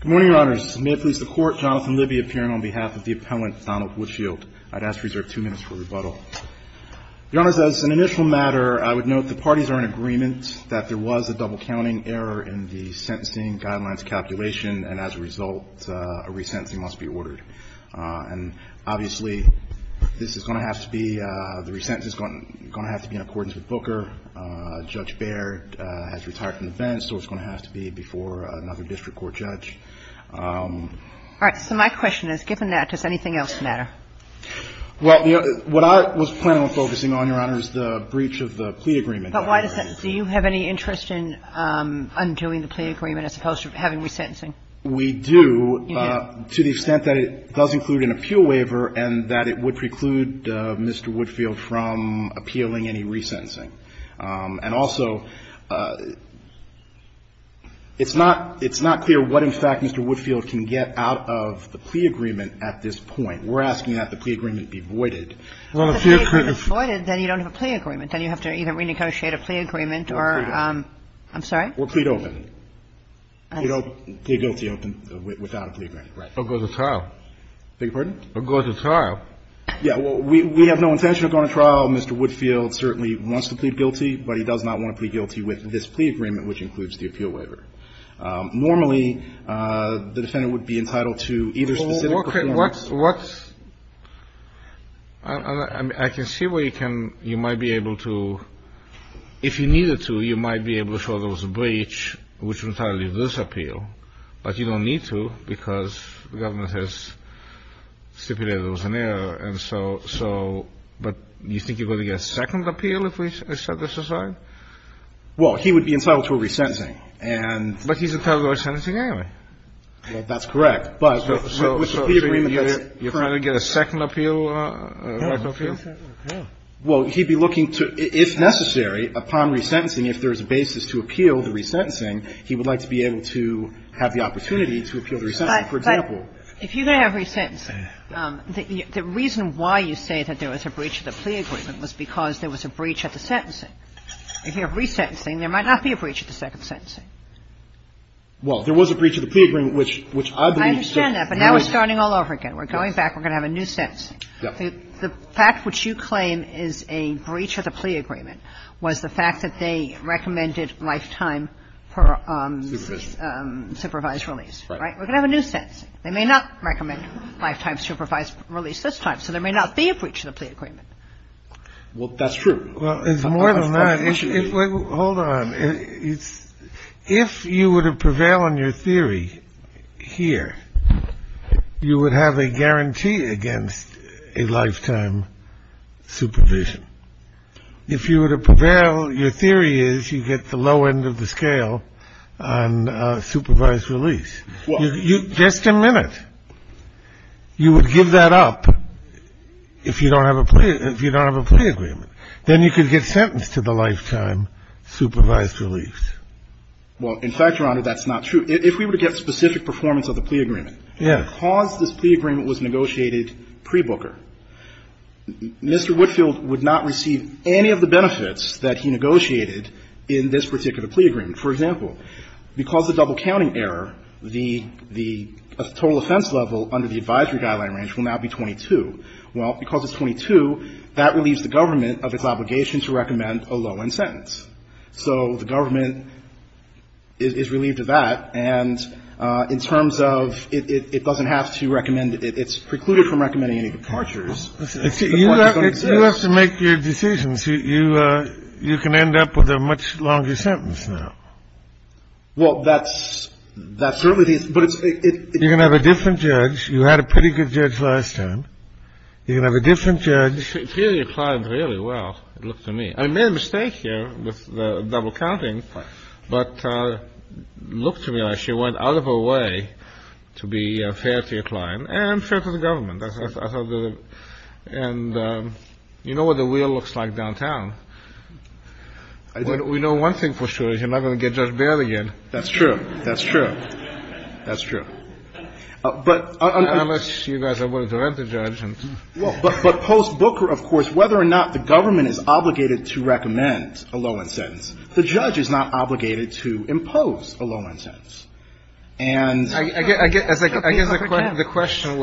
Good morning, Your Honors. May it please the Court, Jonathan Libby appearing on behalf of the appellant, Donald Woodfield. I'd ask to reserve two minutes for rebuttal. Your Honors, as an initial matter, I would note the parties are in agreement that there was a double-counting error in the sentencing guidelines calculation, and as a result, a resentencing must be ordered. And obviously, this is going to have to be, the resentence is going to have to be in accordance with Booker. Judge Baird has retired from defense, so it's going to have to be before another district court judge. All right. So my question is, given that, does anything else matter? Well, what I was planning on focusing on, Your Honors, the breach of the plea agreement. But why the sentence? Do you have any interest in undoing the plea agreement as opposed to having resentencing? We do. You do? To the extent that it does include an appeal waiver and that it would preclude Mr. Woodfield from appealing any resentencing. And also, it's not clear what, in fact, Mr. Woodfield can get out of the plea agreement at this point. We're asking that the plea agreement be voided. Well, if it's voided, then you don't have a plea agreement. Then you have to either renegotiate a plea agreement or, I'm sorry? Or plead open. You don't plead open without a plea agreement. Right. Or go to trial. Beg your pardon? Or go to trial. Yeah. Well, we have no intention of going to trial. Mr. Woodfield certainly wants to plead guilty, but he does not want to plead guilty with this plea agreement, which includes the appeal waiver. Normally, the defendant would be entitled to either specific performance. I can see where you can, you might be able to, if you needed to, you might be able to get a second appeal. Well, he would be entitled to a resentencing. But he's entitled to a resentencing anyway. Well, that's correct. But with the plea agreement, you're trying to get a second appeal, right? Well, he'd be looking to, if necessary, upon resentencing, if there is a basis to which Right. So he would be entitled to a second appeal. Right. But if you're going to have resentencing, the reason why you say that there was a breach of the plea agreement was because there was a breach of the sentencing. If you have resentencing, there might not be a breach of the second sentencing. Well, there was a breach of the plea agreement, which I believe should I understand that, but now we're starting all over again. We're going back. We're going to have a new sentencing. Yeah. The fact which you claim is a breach of the plea agreement was the fact that they recommended, like, lifetime supervised release. Right. We're going to have a new sentencing. They may not recommend lifetime supervised release this time, so there may not be a breach of the plea agreement. Well, that's true. Well, it's more than that. Hold on. If you were to prevail on your theory here, you would have a guarantee against a lifetime supervision. If you were to prevail, your theory is you get the low end of the scale on supervised release. Well. Just a minute. You would give that up if you don't have a plea agreement. Then you could get sentenced to the lifetime supervised release. Well, in fact, Your Honor, that's not true. If we were to get specific performance of the plea agreement. Yeah. Because this plea agreement was negotiated pre-Booker, Mr. Whitfield would not receive any of the benefits that he negotiated in this particular plea agreement. For example, because of double counting error, the total offense level under the advisory guideline range will now be 22. Well, because it's 22, that relieves the government of its obligation to recommend a low end sentence. So the government is relieved of that. And in terms of it doesn't have to recommend it, it's precluded from recommending any departures. You have to make your decisions. You can end up with a much longer sentence now. Well, that's certainly the case. But it's. You're going to have a different judge. You had a pretty good judge last time. You're going to have a different judge. Theory applied really well, it looked to me. I made a mistake here with the double counting. But it looked to me like she went out of her way to be fair to your client and fair to the government. And you know what the wheel looks like downtown. We know one thing for sure. You're not going to get Judge Baird again. That's true. That's true. That's true. But. Unless you guys are willing to rent a judge. But post Booker, of course, whether or not the government is obligated to recommend a low sentence. The judge is not obligated to impose a low sentence. And I guess the question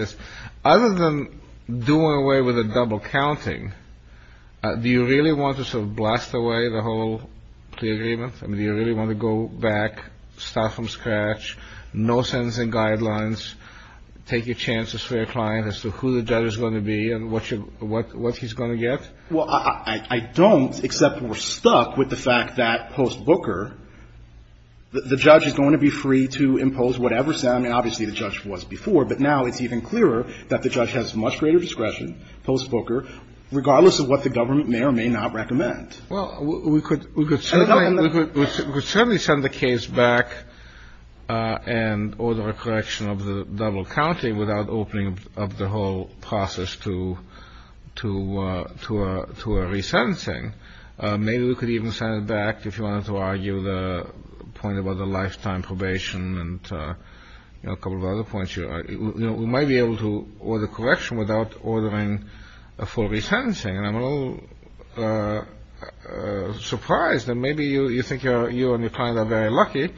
is, other than doing away with a double counting. Do you really want to blast away the whole agreement? I mean, do you really want to go back, start from scratch? No sentencing guidelines. Take your chances for your client as to who the judge is going to be and what he's going to get? Well, I don't, except we're stuck with the fact that post Booker, the judge is going to be free to impose whatever. I mean, obviously, the judge was before. But now it's even clearer that the judge has much greater discretion post Booker, regardless of what the government may or may not recommend. Well, we could certainly send the case back and order a correction of the double counting without opening up the whole process to to to to a resentencing. Maybe we could even send it back if you wanted to argue the point about the lifetime probation and a couple of other points. You know, we might be able to order correction without ordering a full resentencing. And I'm a little surprised that maybe you think you and your client are very lucky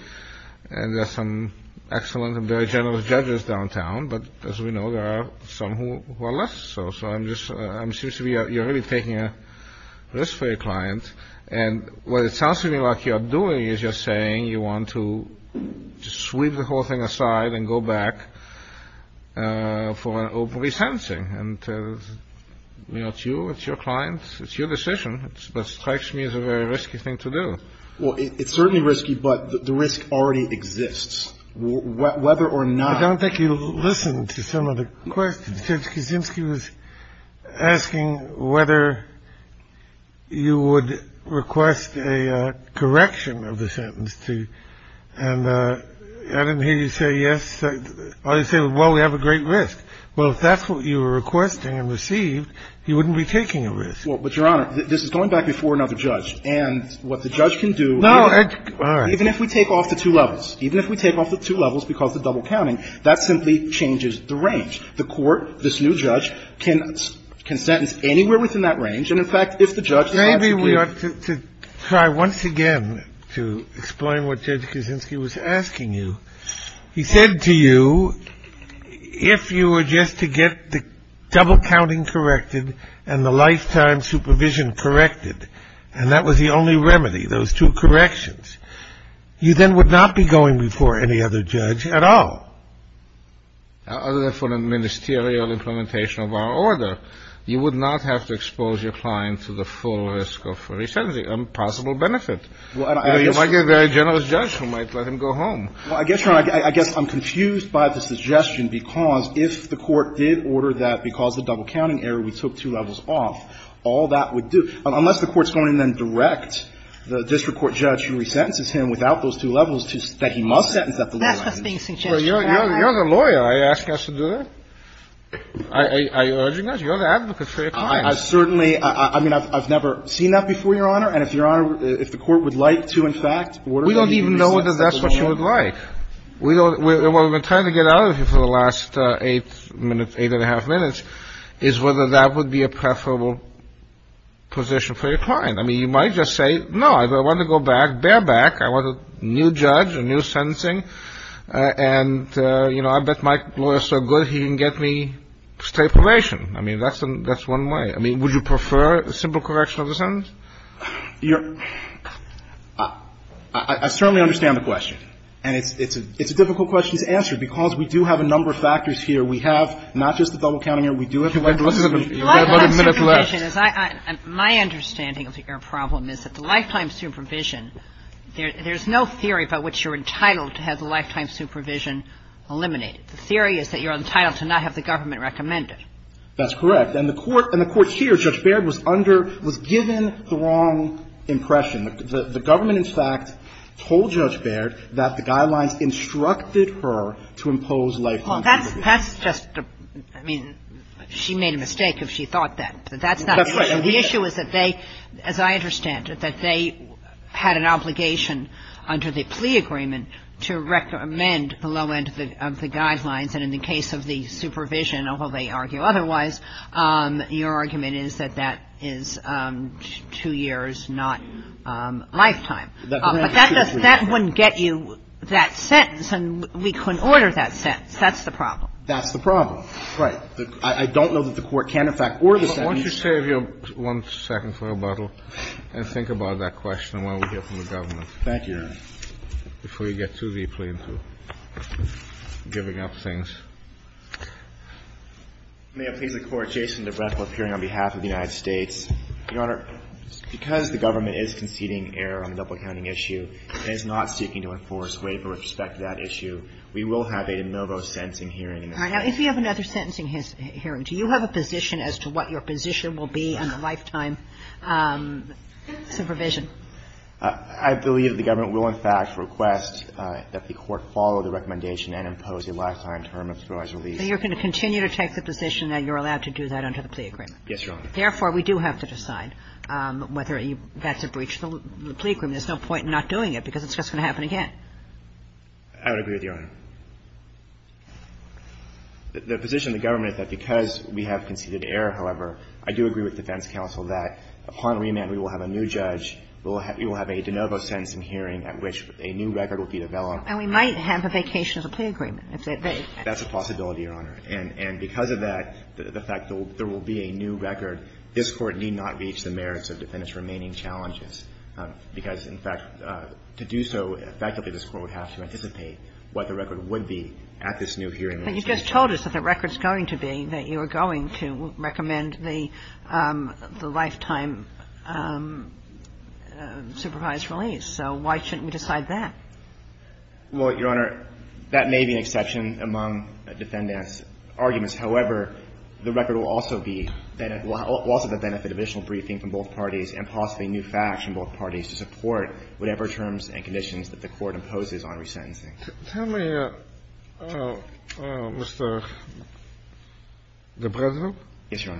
and there are some excellent and very generous judges downtown. But as we know, there are some who are less so. So I'm just I'm sure you're really taking a risk for your client. And what it sounds to me like you're doing is you're saying you want to sweep the whole thing aside and go back for an open resentencing. And that's you. It's your clients. It's your decision. It strikes me as a very risky thing to do. Well, it's certainly risky, but the risk already exists. Whether or not. I don't think you listen to some of the questions. He was asking whether you would request a correction of the sentence. And I didn't hear you say yes. I say, well, we have a great risk. Well, if that's what you were requesting and received, you wouldn't be taking a risk. Well, but Your Honor, this is going back before another judge. And what the judge can do. No. Even if we take off the two levels, even if we take off the two levels because the double counting, that simply changes the range. The court, this new judge, can sentence anywhere within that range. And in fact, if the judge. Maybe we ought to try once again to explain what Judge Kuczynski was asking you. He said to you, if you were just to get the double counting corrected and the lifetime supervision corrected. And that was the only remedy, those two corrections. You then would not be going before any other judge at all. Other than for the ministerial implementation of our order. You would not have to expose your client to the full risk of a resentment, a possible benefit. Like a very generous judge who might let him go home. Well, I guess, Your Honor, I guess I'm confused by the suggestion because if the court did order that because the double counting error, we took two levels off, all that would do. Unless the court's going to then direct the district court judge who resentences him without those two levels that he must sentence at the low end. That's what's being suggested. You're the lawyer. Are you asking us to do that? Are you urging us? You're the advocate for your client. I certainly. I mean, I've never seen that before, Your Honor. And if Your Honor, if the court would like to, in fact, order that he be resented at the low end. We don't even know whether that's what you would like. What we've been trying to get out of you for the last eight minutes, eight and a half minutes, is whether that would be a preferable position for your client. I mean, you might just say, no, I want to go back, bear back. I want a new judge, a new sentencing. And, you know, I bet my lawyer's so good he can get me straight probation. I mean, that's one way. I mean, would you prefer a simple correction of the sentence? You're – I certainly understand the question. And it's a difficult question to answer, because we do have a number of factors here. We have not just the double counting error. We do have the lifetime supervision. My understanding of your problem is that the lifetime supervision, there's no theory by which you're entitled to have the lifetime supervision eliminated. The theory is that you're entitled to not have the government recommend it. That's correct. And the court here, Judge Baird, was under – was given the wrong impression. The government, in fact, told Judge Baird that the guidelines instructed her to impose lifetime supervision. Well, that's just – I mean, she made a mistake if she thought that. That's not the issue. The issue is that they – as I understand it, that they had an obligation under the plea agreement to recommend the low end of the guidelines, and in the case of the supervision, although they argue otherwise, your argument is that that is two years, not lifetime. But that doesn't – that wouldn't get you that sentence, and we couldn't order that sentence. That's the problem. That's the problem. Right. I don't know that the court can, in fact, order the sentence. Why don't you save your one-second rebuttal and think about that question while we hear from the government. Thank you, Your Honor. Before we get too deeply into giving up things. May it please the Court. Jason DeBretto appearing on behalf of the United States. Your Honor, because the government is conceding error on the double-counting issue and is not seeking to enforce waiver with respect to that issue, we will have a de novo sentencing hearing in the future. All right. Now, if you have another sentencing hearing, do you have a position as to what your position will be on the lifetime supervision? I believe the government will, in fact, request that the court follow the recommendation and impose a lifetime term of supervised release. So you're going to continue to take the position that you're allowed to do that under the plea agreement? Yes, Your Honor. Therefore, we do have to decide whether that's a breach of the plea agreement. There's no point in not doing it because it's just going to happen again. I would agree with Your Honor. The position of the government is that because we have conceded error, however, I do agree with defense counsel that upon remand we will have a new judge, we will have a de novo sentencing hearing at which a new record will be developed. And we might have a vacation of the plea agreement. That's a possibility, Your Honor. And because of that, the fact that there will be a new record, this Court need not reach the merits of defendants' remaining challenges because, in fact, to do so effectively, this Court would have to anticipate what the record would be at this new hearing. But you just told us that the record's going to be that you are going to recommend the lifetime supervised release. So why shouldn't we decide that? Well, Your Honor, that may be an exception among defendants' arguments. However, the record will also be that it will also benefit additional briefing from both parties and possibly new facts from both parties to support whatever terms and conditions that the Court imposes on resentencing. Tell me, Mr. de Breslau. Yes, Your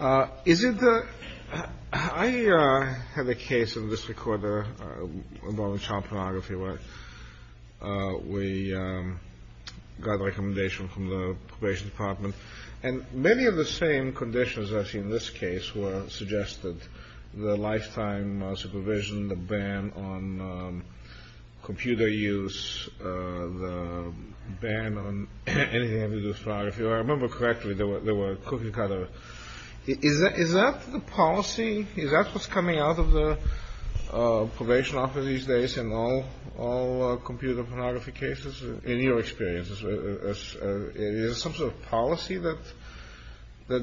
Honor. Is it the – I had a case in this recorder about child pornography where we got a recommendation from the probation department. And many of the same conditions, as in this case, were suggested, the lifetime supervision, the ban on computer use, the ban on anything having to do with pornography. If I remember correctly, there was a cookie cutter. Is that the policy? Is that what's coming out of the probation office these days in all computer pornography cases, in your experience? Is it some sort of policy that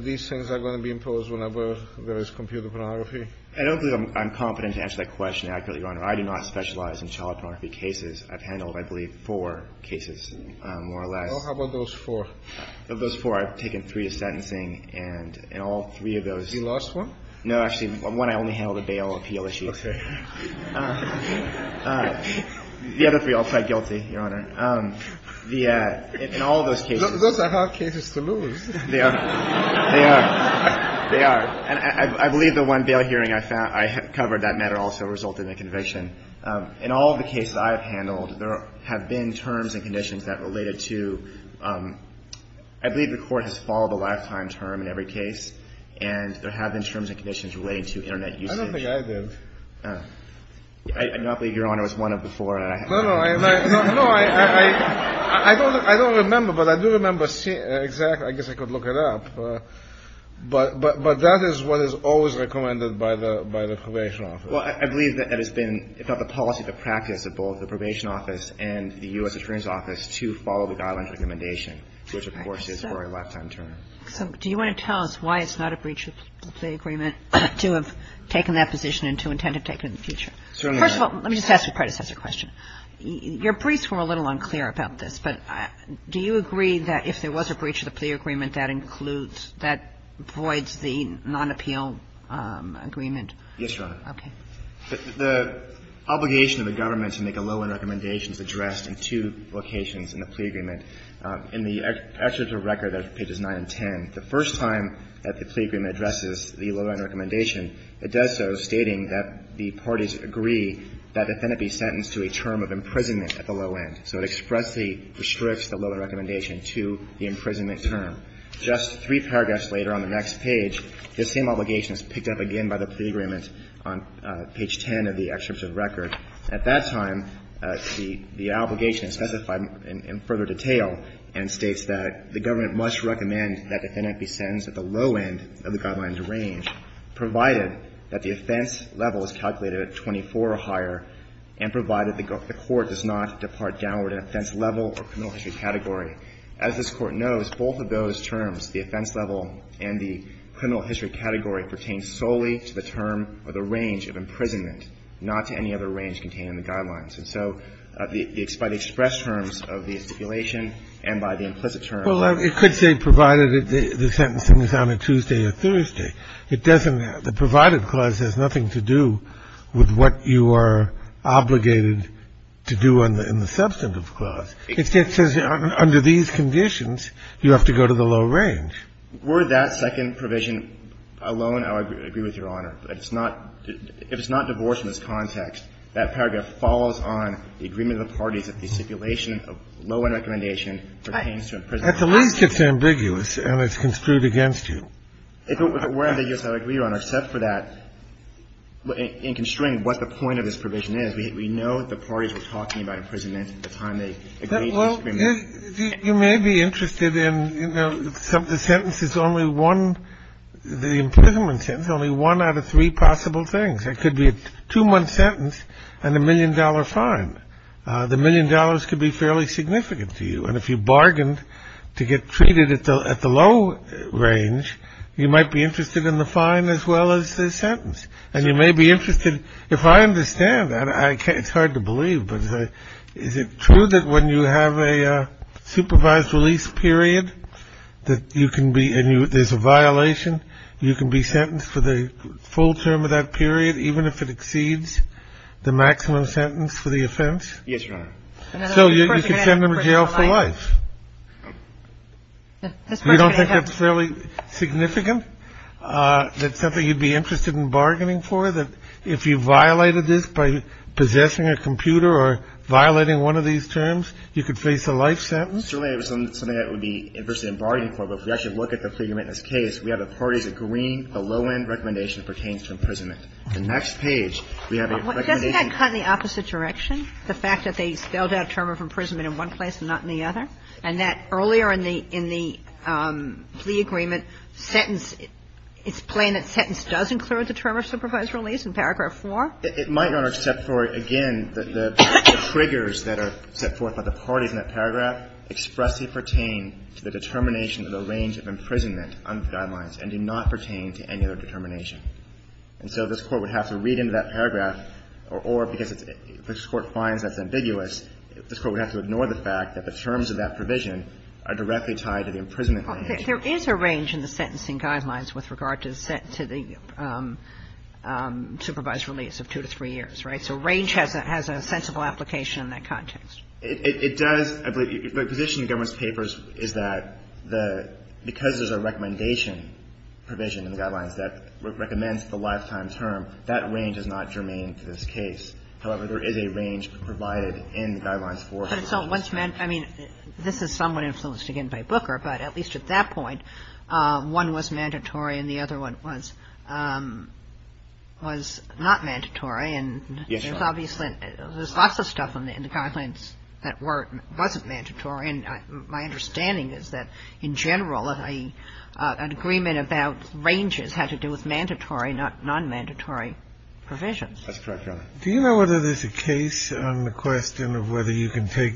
these things are going to be imposed whenever there is computer pornography? I don't think I'm confident to answer that question accurately, Your Honor. I do not specialize in child pornography cases. I've handled, I believe, four cases more or less. Well, how about those four? Of those four, I've taken three to sentencing. And in all three of those – You lost one? No, actually, one I only handled a bail appeal issue. Okay. The other three I'll try guilty, Your Honor. In all those cases – Those are hard cases to lose. They are. They are. They are. And I believe the one bail hearing I found, I covered that matter also resulted in a conviction. In all the cases I have handled, there have been terms and conditions that related to – I believe the Court has followed a lifetime term in every case. And there have been terms and conditions relating to Internet usage. I don't think I did. I do not believe Your Honor was one of the four. No, no. I don't remember, but I do remember seeing – I guess I could look it up. But that is what is always recommended by the Probation Office. Well, I believe that has been, if not the policy, the practice of both the Probation Office and the U.S. Attorney's Office to follow the guidelines of recommendation, which, of course, is for a lifetime term. So do you want to tell us why it's not a breach of the plea agreement to have taken that position and to intend to take it in the future? Certainly not. First of all, let me just ask a predecessor question. Your briefs were a little unclear about this, but do you agree that if there was a breach of the plea agreement, that includes – that voids the non-appeal agreement? Yes, Your Honor. Okay. The obligation of the government to make a low-end recommendation is addressed in two locations in the plea agreement. In the excerpt of the record at pages 9 and 10, the first time that the plea agreement addresses the low-end recommendation, it does so stating that the parties agree that the defendant be sentenced to a term of imprisonment at the low end. So it expressly restricts the low-end recommendation to the imprisonment term. Just three paragraphs later on the next page, this same obligation is picked up again by the plea agreement on page 10 of the excerpt of the record. At that time, the obligation is specified in further detail and states that the government must recommend that the defendant be sentenced at the low end of the guidelines range, provided that the offense level is calculated at 24 or higher, and provided the court does not depart downward in offense level or criminal history category. As this Court knows, both of those terms, the offense level and the criminal history category, pertain solely to the term or the range of imprisonment, not to any other range contained in the guidelines. And so by the express terms of the stipulation and by the implicit term of the law. Well, it could say provided the sentencing is on a Tuesday or Thursday. The provided clause has nothing to do with what you are obligated to do in the substantive clause. It says under these conditions, you have to go to the low range. Were that second provision alone, I would agree with Your Honor. If it's not divorce in this context, that paragraph follows on the agreement of the parties that the stipulation of low-end recommendation pertains to imprisonment. At the least, it's ambiguous and it's construed against you. If it were ambiguous, I would agree, Your Honor. Except for that, in construing what the point of this provision is, we know that the parties were talking about imprisonment at the time they agreed to this agreement. Well, you may be interested in, you know, the sentence is only one, the imprisonment sentence, only one out of three possible things. It could be a two-month sentence and a million-dollar fine. The million dollars could be fairly significant to you. And if you bargained to get treated at the low range, you might be interested in the fine as well as the sentence. And you may be interested, if I understand that, it's hard to believe, but is it true that when you have a supervised release period that you can be, and there's a violation, you can be sentenced for the full term of that period even if it exceeds the maximum sentence for the offense? Yes, Your Honor. So you could send them to jail for life. You don't think that's fairly significant? That's something you'd be interested in bargaining for? That if you violated this by possessing a computer or violating one of these terms, you could face a life sentence? Certainly it was something that I would be interested in bargaining for. But if we actually look at the Fleger-Mintness case, we have the parties agreeing the low-end recommendation pertains to imprisonment. The next page, we have a recommendation. Doesn't that cut in the opposite direction? The fact that they spelled out term of imprisonment in one place and not in the other? And that earlier in the plea agreement sentence, it's plain that sentence does include the term of supervised release in paragraph 4? It might, Your Honor, except for, again, the triggers that are set forth by the parties in that paragraph expressly pertain to the determination of the range of imprisonment on the guidelines and do not pertain to any other determination. And so this Court would have to read into that paragraph, or because this Court finds that's ambiguous, this Court would have to ignore the fact that the terms of that provision are directly tied to the imprisonment range. There is a range in the sentencing guidelines with regard to the supervised release of 2 to 3 years, right? So range has a sensible application in that context. It does. The position in the government's papers is that because there's a recommendation provision in the guidelines that recommends the lifetime term, that range is not germane to this case. However, there is a range provided in the guidelines for the release. But it's not what's meant. I mean, this is somewhat influenced, again, by Booker. But at least at that point, one was mandatory and the other one was not mandatory. Yes, Your Honor. And there's obviously lots of stuff in the guidelines that wasn't mandatory. And my understanding is that in general, an agreement about ranges had to do with mandatory, not nonmandatory provisions. That's correct, Your Honor. Do you know whether there's a case on the question of whether you can take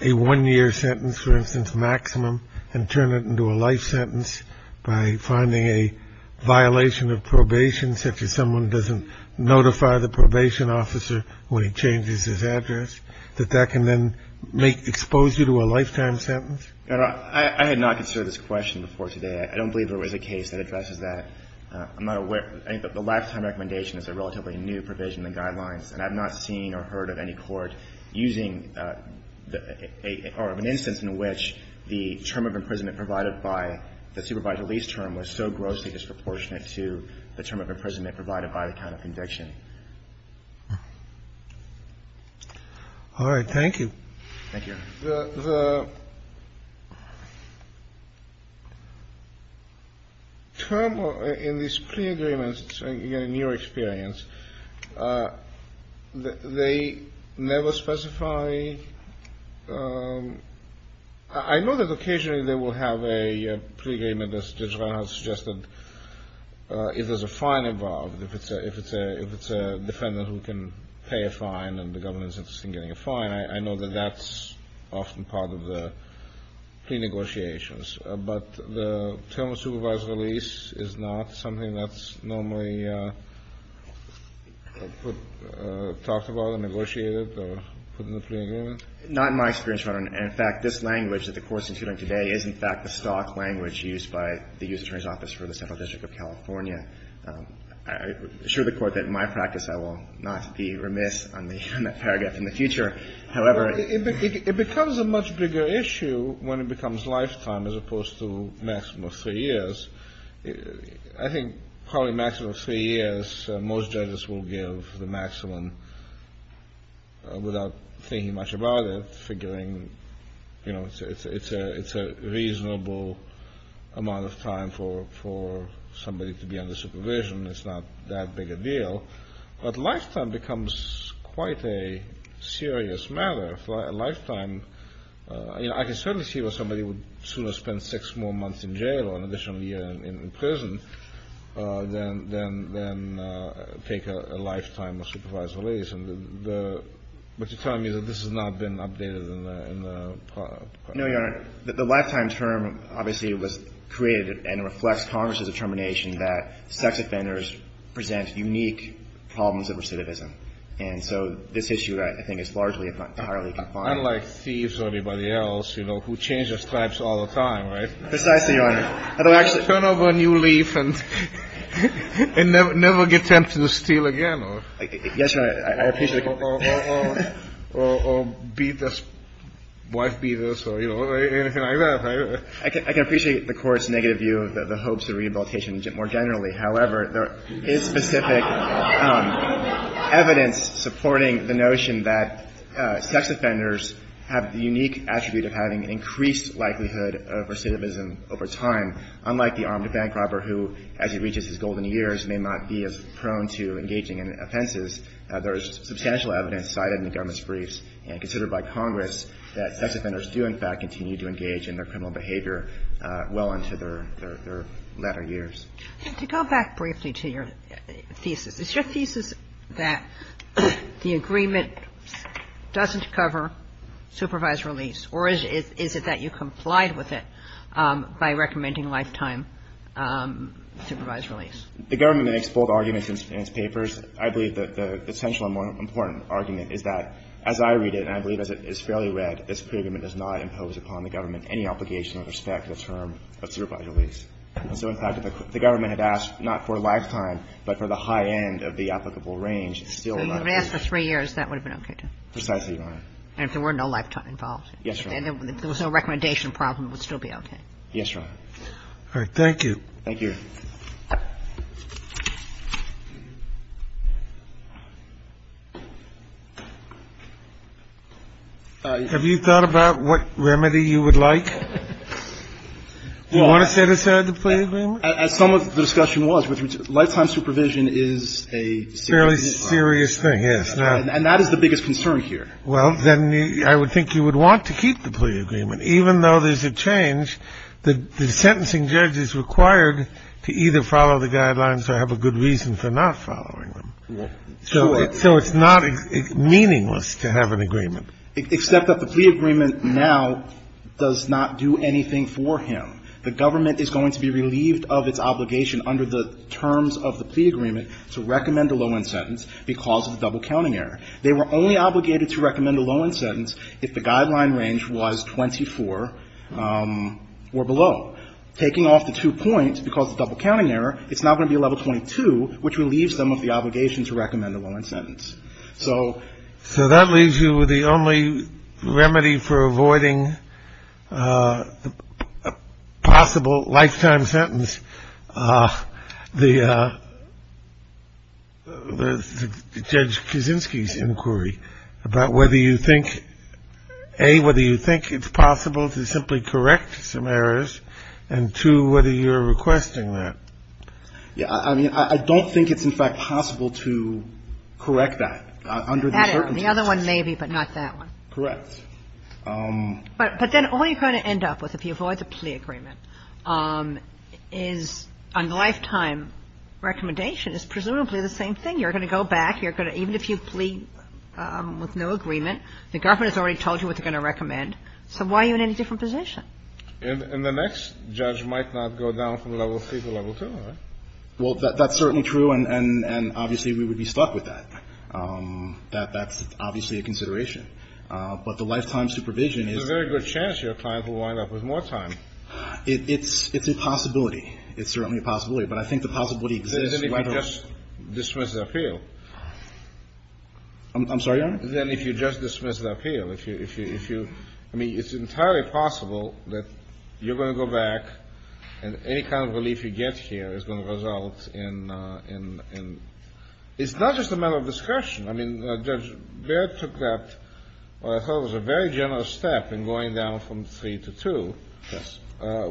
a one-year sentence, for instance, maximum, and turn it into a life sentence by finding a violation of probation, such as someone doesn't notify the probation officer when he changes his address, that that can then make, expose you to a lifetime sentence? Your Honor, I had not considered this question before today. I don't believe there was a case that addresses that. I'm not aware. I think the lifetime recommendation is a relatively new provision in the guidelines. And I've not seen or heard of any court using the or of an instance in which the term of imprisonment provided by the supervised release term was so grossly disproportionate to the term of imprisonment provided by the count of conviction. All right. Thank you. Thank you, Your Honor. The term in these pre-agreements, again, in your experience, they never specify – I know that occasionally they will have a pre-agreement, as Judge Reinhart suggested. If there's a fine involved, if it's a defendant who can pay a fine and the government is interested in getting a fine, I know that that's often part of the pre-negotiations. But the term of supervised release is not something that's normally talked about and negotiated or put in the pre-agreement? Not in my experience, Your Honor. And, in fact, this language that the Court is using today is, in fact, the stock language used by the U.S. Attorney's Office for the Central District of California. I assure the Court that in my practice, I will not be remiss on that paragraph in the future. However, it becomes a much bigger issue when it becomes lifetime as opposed to maximum of three years. I think probably maximum of three years, most judges will give the maximum without thinking much about it, figuring it's a reasonable amount of time for somebody to be under supervision. It's not that big a deal. But lifetime becomes quite a serious matter. A lifetime – I can certainly see where somebody would sooner spend six more months in jail or an additional year in prison than take a lifetime of supervised release. But you're telling me that this has not been updated in the – No, Your Honor. The lifetime term obviously was created and reflects Congress's determination that sex offenders present unique problems of recidivism. And so this issue, I think, is largely and entirely confined. Unlike thieves or anybody else, you know, who change their stripes all the time, right? Precisely, Your Honor. They'll actually turn over a new leaf and never get tempted to steal again. Yes, Your Honor. I appreciate it. Or be this – wife be this or, you know, anything like that. I can appreciate the Court's negative view of the hopes of rehabilitation more generally. However, there is specific evidence supporting the notion that sex offenders have the unique attribute of having increased likelihood of recidivism over time. Unlike the armed bank robber who, as he reaches his golden years, may not be as prone to engaging in offenses, there is substantial evidence cited in the government's briefs and considered by Congress that sex offenders do, in fact, continue to engage in their criminal behavior well into their latter years. To go back briefly to your thesis, is your thesis that the agreement doesn't cover supervised release, or is it that you complied with it by recommending lifetime supervised release? The government makes bold arguments in its papers. I believe that the essential and more important argument is that, as I read it, and I believe as it is fairly read, this pre-agreement does not impose upon the government any obligation or respect to the term of supervised release. And so, in fact, if the government had asked not for lifetime, but for the high end of the applicable range, it's still allowed. So if you had asked for three years, that would have been okay, too? Precisely, Your Honor. And if there were no lifetime involved? Yes, Your Honor. And if there was no recommendation problem, it would still be okay? Yes, Your Honor. All right. Thank you. Have you thought about what remedy you would like? Do you want to set aside the plea agreement? As some of the discussion was, lifetime supervision is a serious thing. A fairly serious thing, yes. And that is the biggest concern here. Well, then I would think you would want to keep the plea agreement. Even though there's a change, the sentencing judge is required to either follow the guidelines or have a good reason for not following them. Sure. So it's not meaningless to have an agreement. Except that the plea agreement now does not do anything for him. The government is going to be relieved of its obligation under the terms of the plea agreement to recommend a low-end sentence because of the double counting error. They were only obligated to recommend a low-end sentence if the guideline range was 24 or below. Taking off the two points because of double counting error, it's now going to be a level 22, which relieves them of the obligation to recommend a low-end sentence. So that leaves you with the only remedy for avoiding a possible lifetime sentence. The Judge Kaczynski's inquiry about whether you think, A, whether you think it's possible to simply correct some errors, and, two, whether you're requesting that. Yeah. I mean, I don't think it's, in fact, possible to correct that under the circumstances. The other one maybe, but not that one. Correct. But then all you're going to end up with, if you avoid the plea agreement, is a lifetime recommendation is presumably the same thing. You're going to go back. You're going to – even if you plead with no agreement, the government has already told you what they're going to recommend. So why are you in any different position? And the next judge might not go down from level 3 to level 2, right? Well, that's certainly true, and obviously we would be stuck with that. That's obviously a consideration. But the lifetime supervision is – There's a very good chance your client will wind up with more time. It's a possibility. It's certainly a possibility. But I think the possibility exists – Then if you just dismiss the appeal. I'm sorry, Your Honor? Then if you just dismiss the appeal, if you – I mean, it's entirely possible that you're going to go back and any kind of relief you get here is going to result in – it's not just a matter of discretion. I mean, Judge Baird took that, what I thought was a very generous step, in going down from 3 to 2. Yes.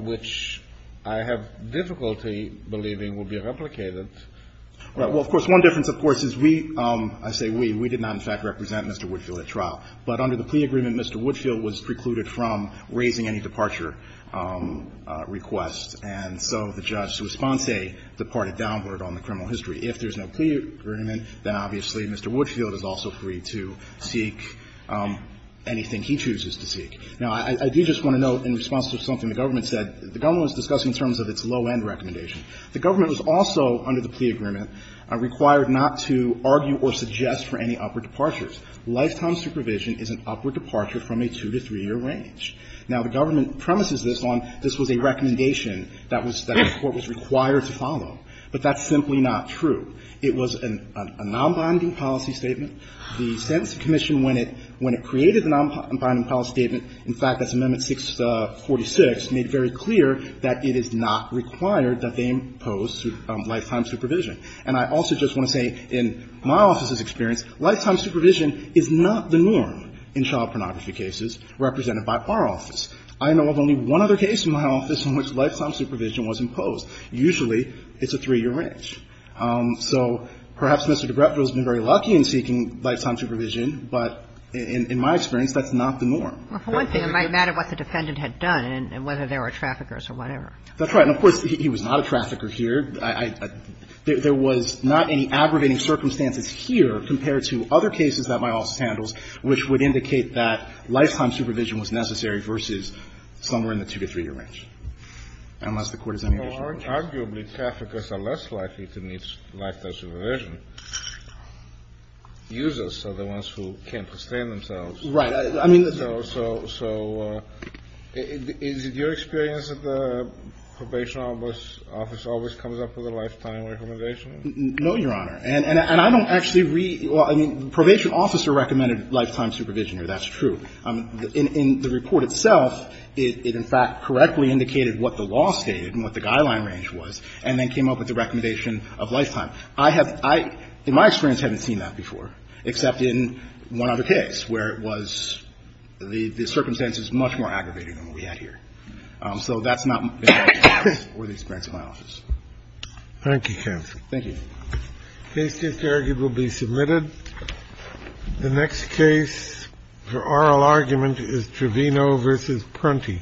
Which I have difficulty believing will be replicated. Well, of course, one difference, of course, is we – I say we. We did not, in fact, represent Mr. Woodfield at trial. But under the plea agreement, Mr. Woodfield was precluded from raising any departure requests. And so the judge's response, say, departed downward on the criminal history. If there's no plea agreement, then obviously Mr. Woodfield is also free to seek anything he chooses to seek. Now, I do just want to note, in response to something the government said, the government was discussing in terms of its low-end recommendation. The government was also, under the plea agreement, required not to argue or suggest for any upward departures. Lifetime supervision is an upward departure from a 2- to 3-year range. Now, the government premises this on this was a recommendation that was – that the Court was required to follow, but that's simply not true. It was a nonbinding policy statement. The Sentencing Commission, when it – when it created the nonbinding policy statement, in fact, that's Amendment 646, made very clear that it is not required that they impose lifetime supervision. And I also just want to say, in my office's experience, lifetime supervision is not the norm in child pornography cases represented by our office. I know of only one other case in my office in which lifetime supervision was imposed. Usually, it's a 3-year range. So perhaps Mr. DeGreffio has been very lucky in seeking lifetime supervision, but in my experience, that's not the norm. Kagan. Well, for one thing, it might matter what the defendant had done and whether there were traffickers or whatever. That's right. And of course, he was not a trafficker here. There was not any aggravating circumstances here compared to other cases that my office handles which would indicate that lifetime supervision was necessary versus somewhere in the 2- to 3-year range, unless the Court has any additional questions. Well, arguably, traffickers are less likely to need lifetime supervision. Users are the ones who can't sustain themselves. Right. I mean, the – So is it your experience that the probation office always comes up with a lifetime recommendation? No, Your Honor. And I don't actually read – well, I mean, the probation officer recommended lifetime supervision here. That's true. In the report itself, it in fact correctly indicated what the law stated and what the guideline range was, and then came up with the recommendation of lifetime. I have – in my experience, I haven't seen that before, except in one other case where it was – the circumstances much more aggravating than what we had here. So that's not my experience or the experience of my office. Thank you, counsel. Thank you. The case is arguably submitted. The next case for oral argument is Trevino v. Prunty. Thank you. Thank you.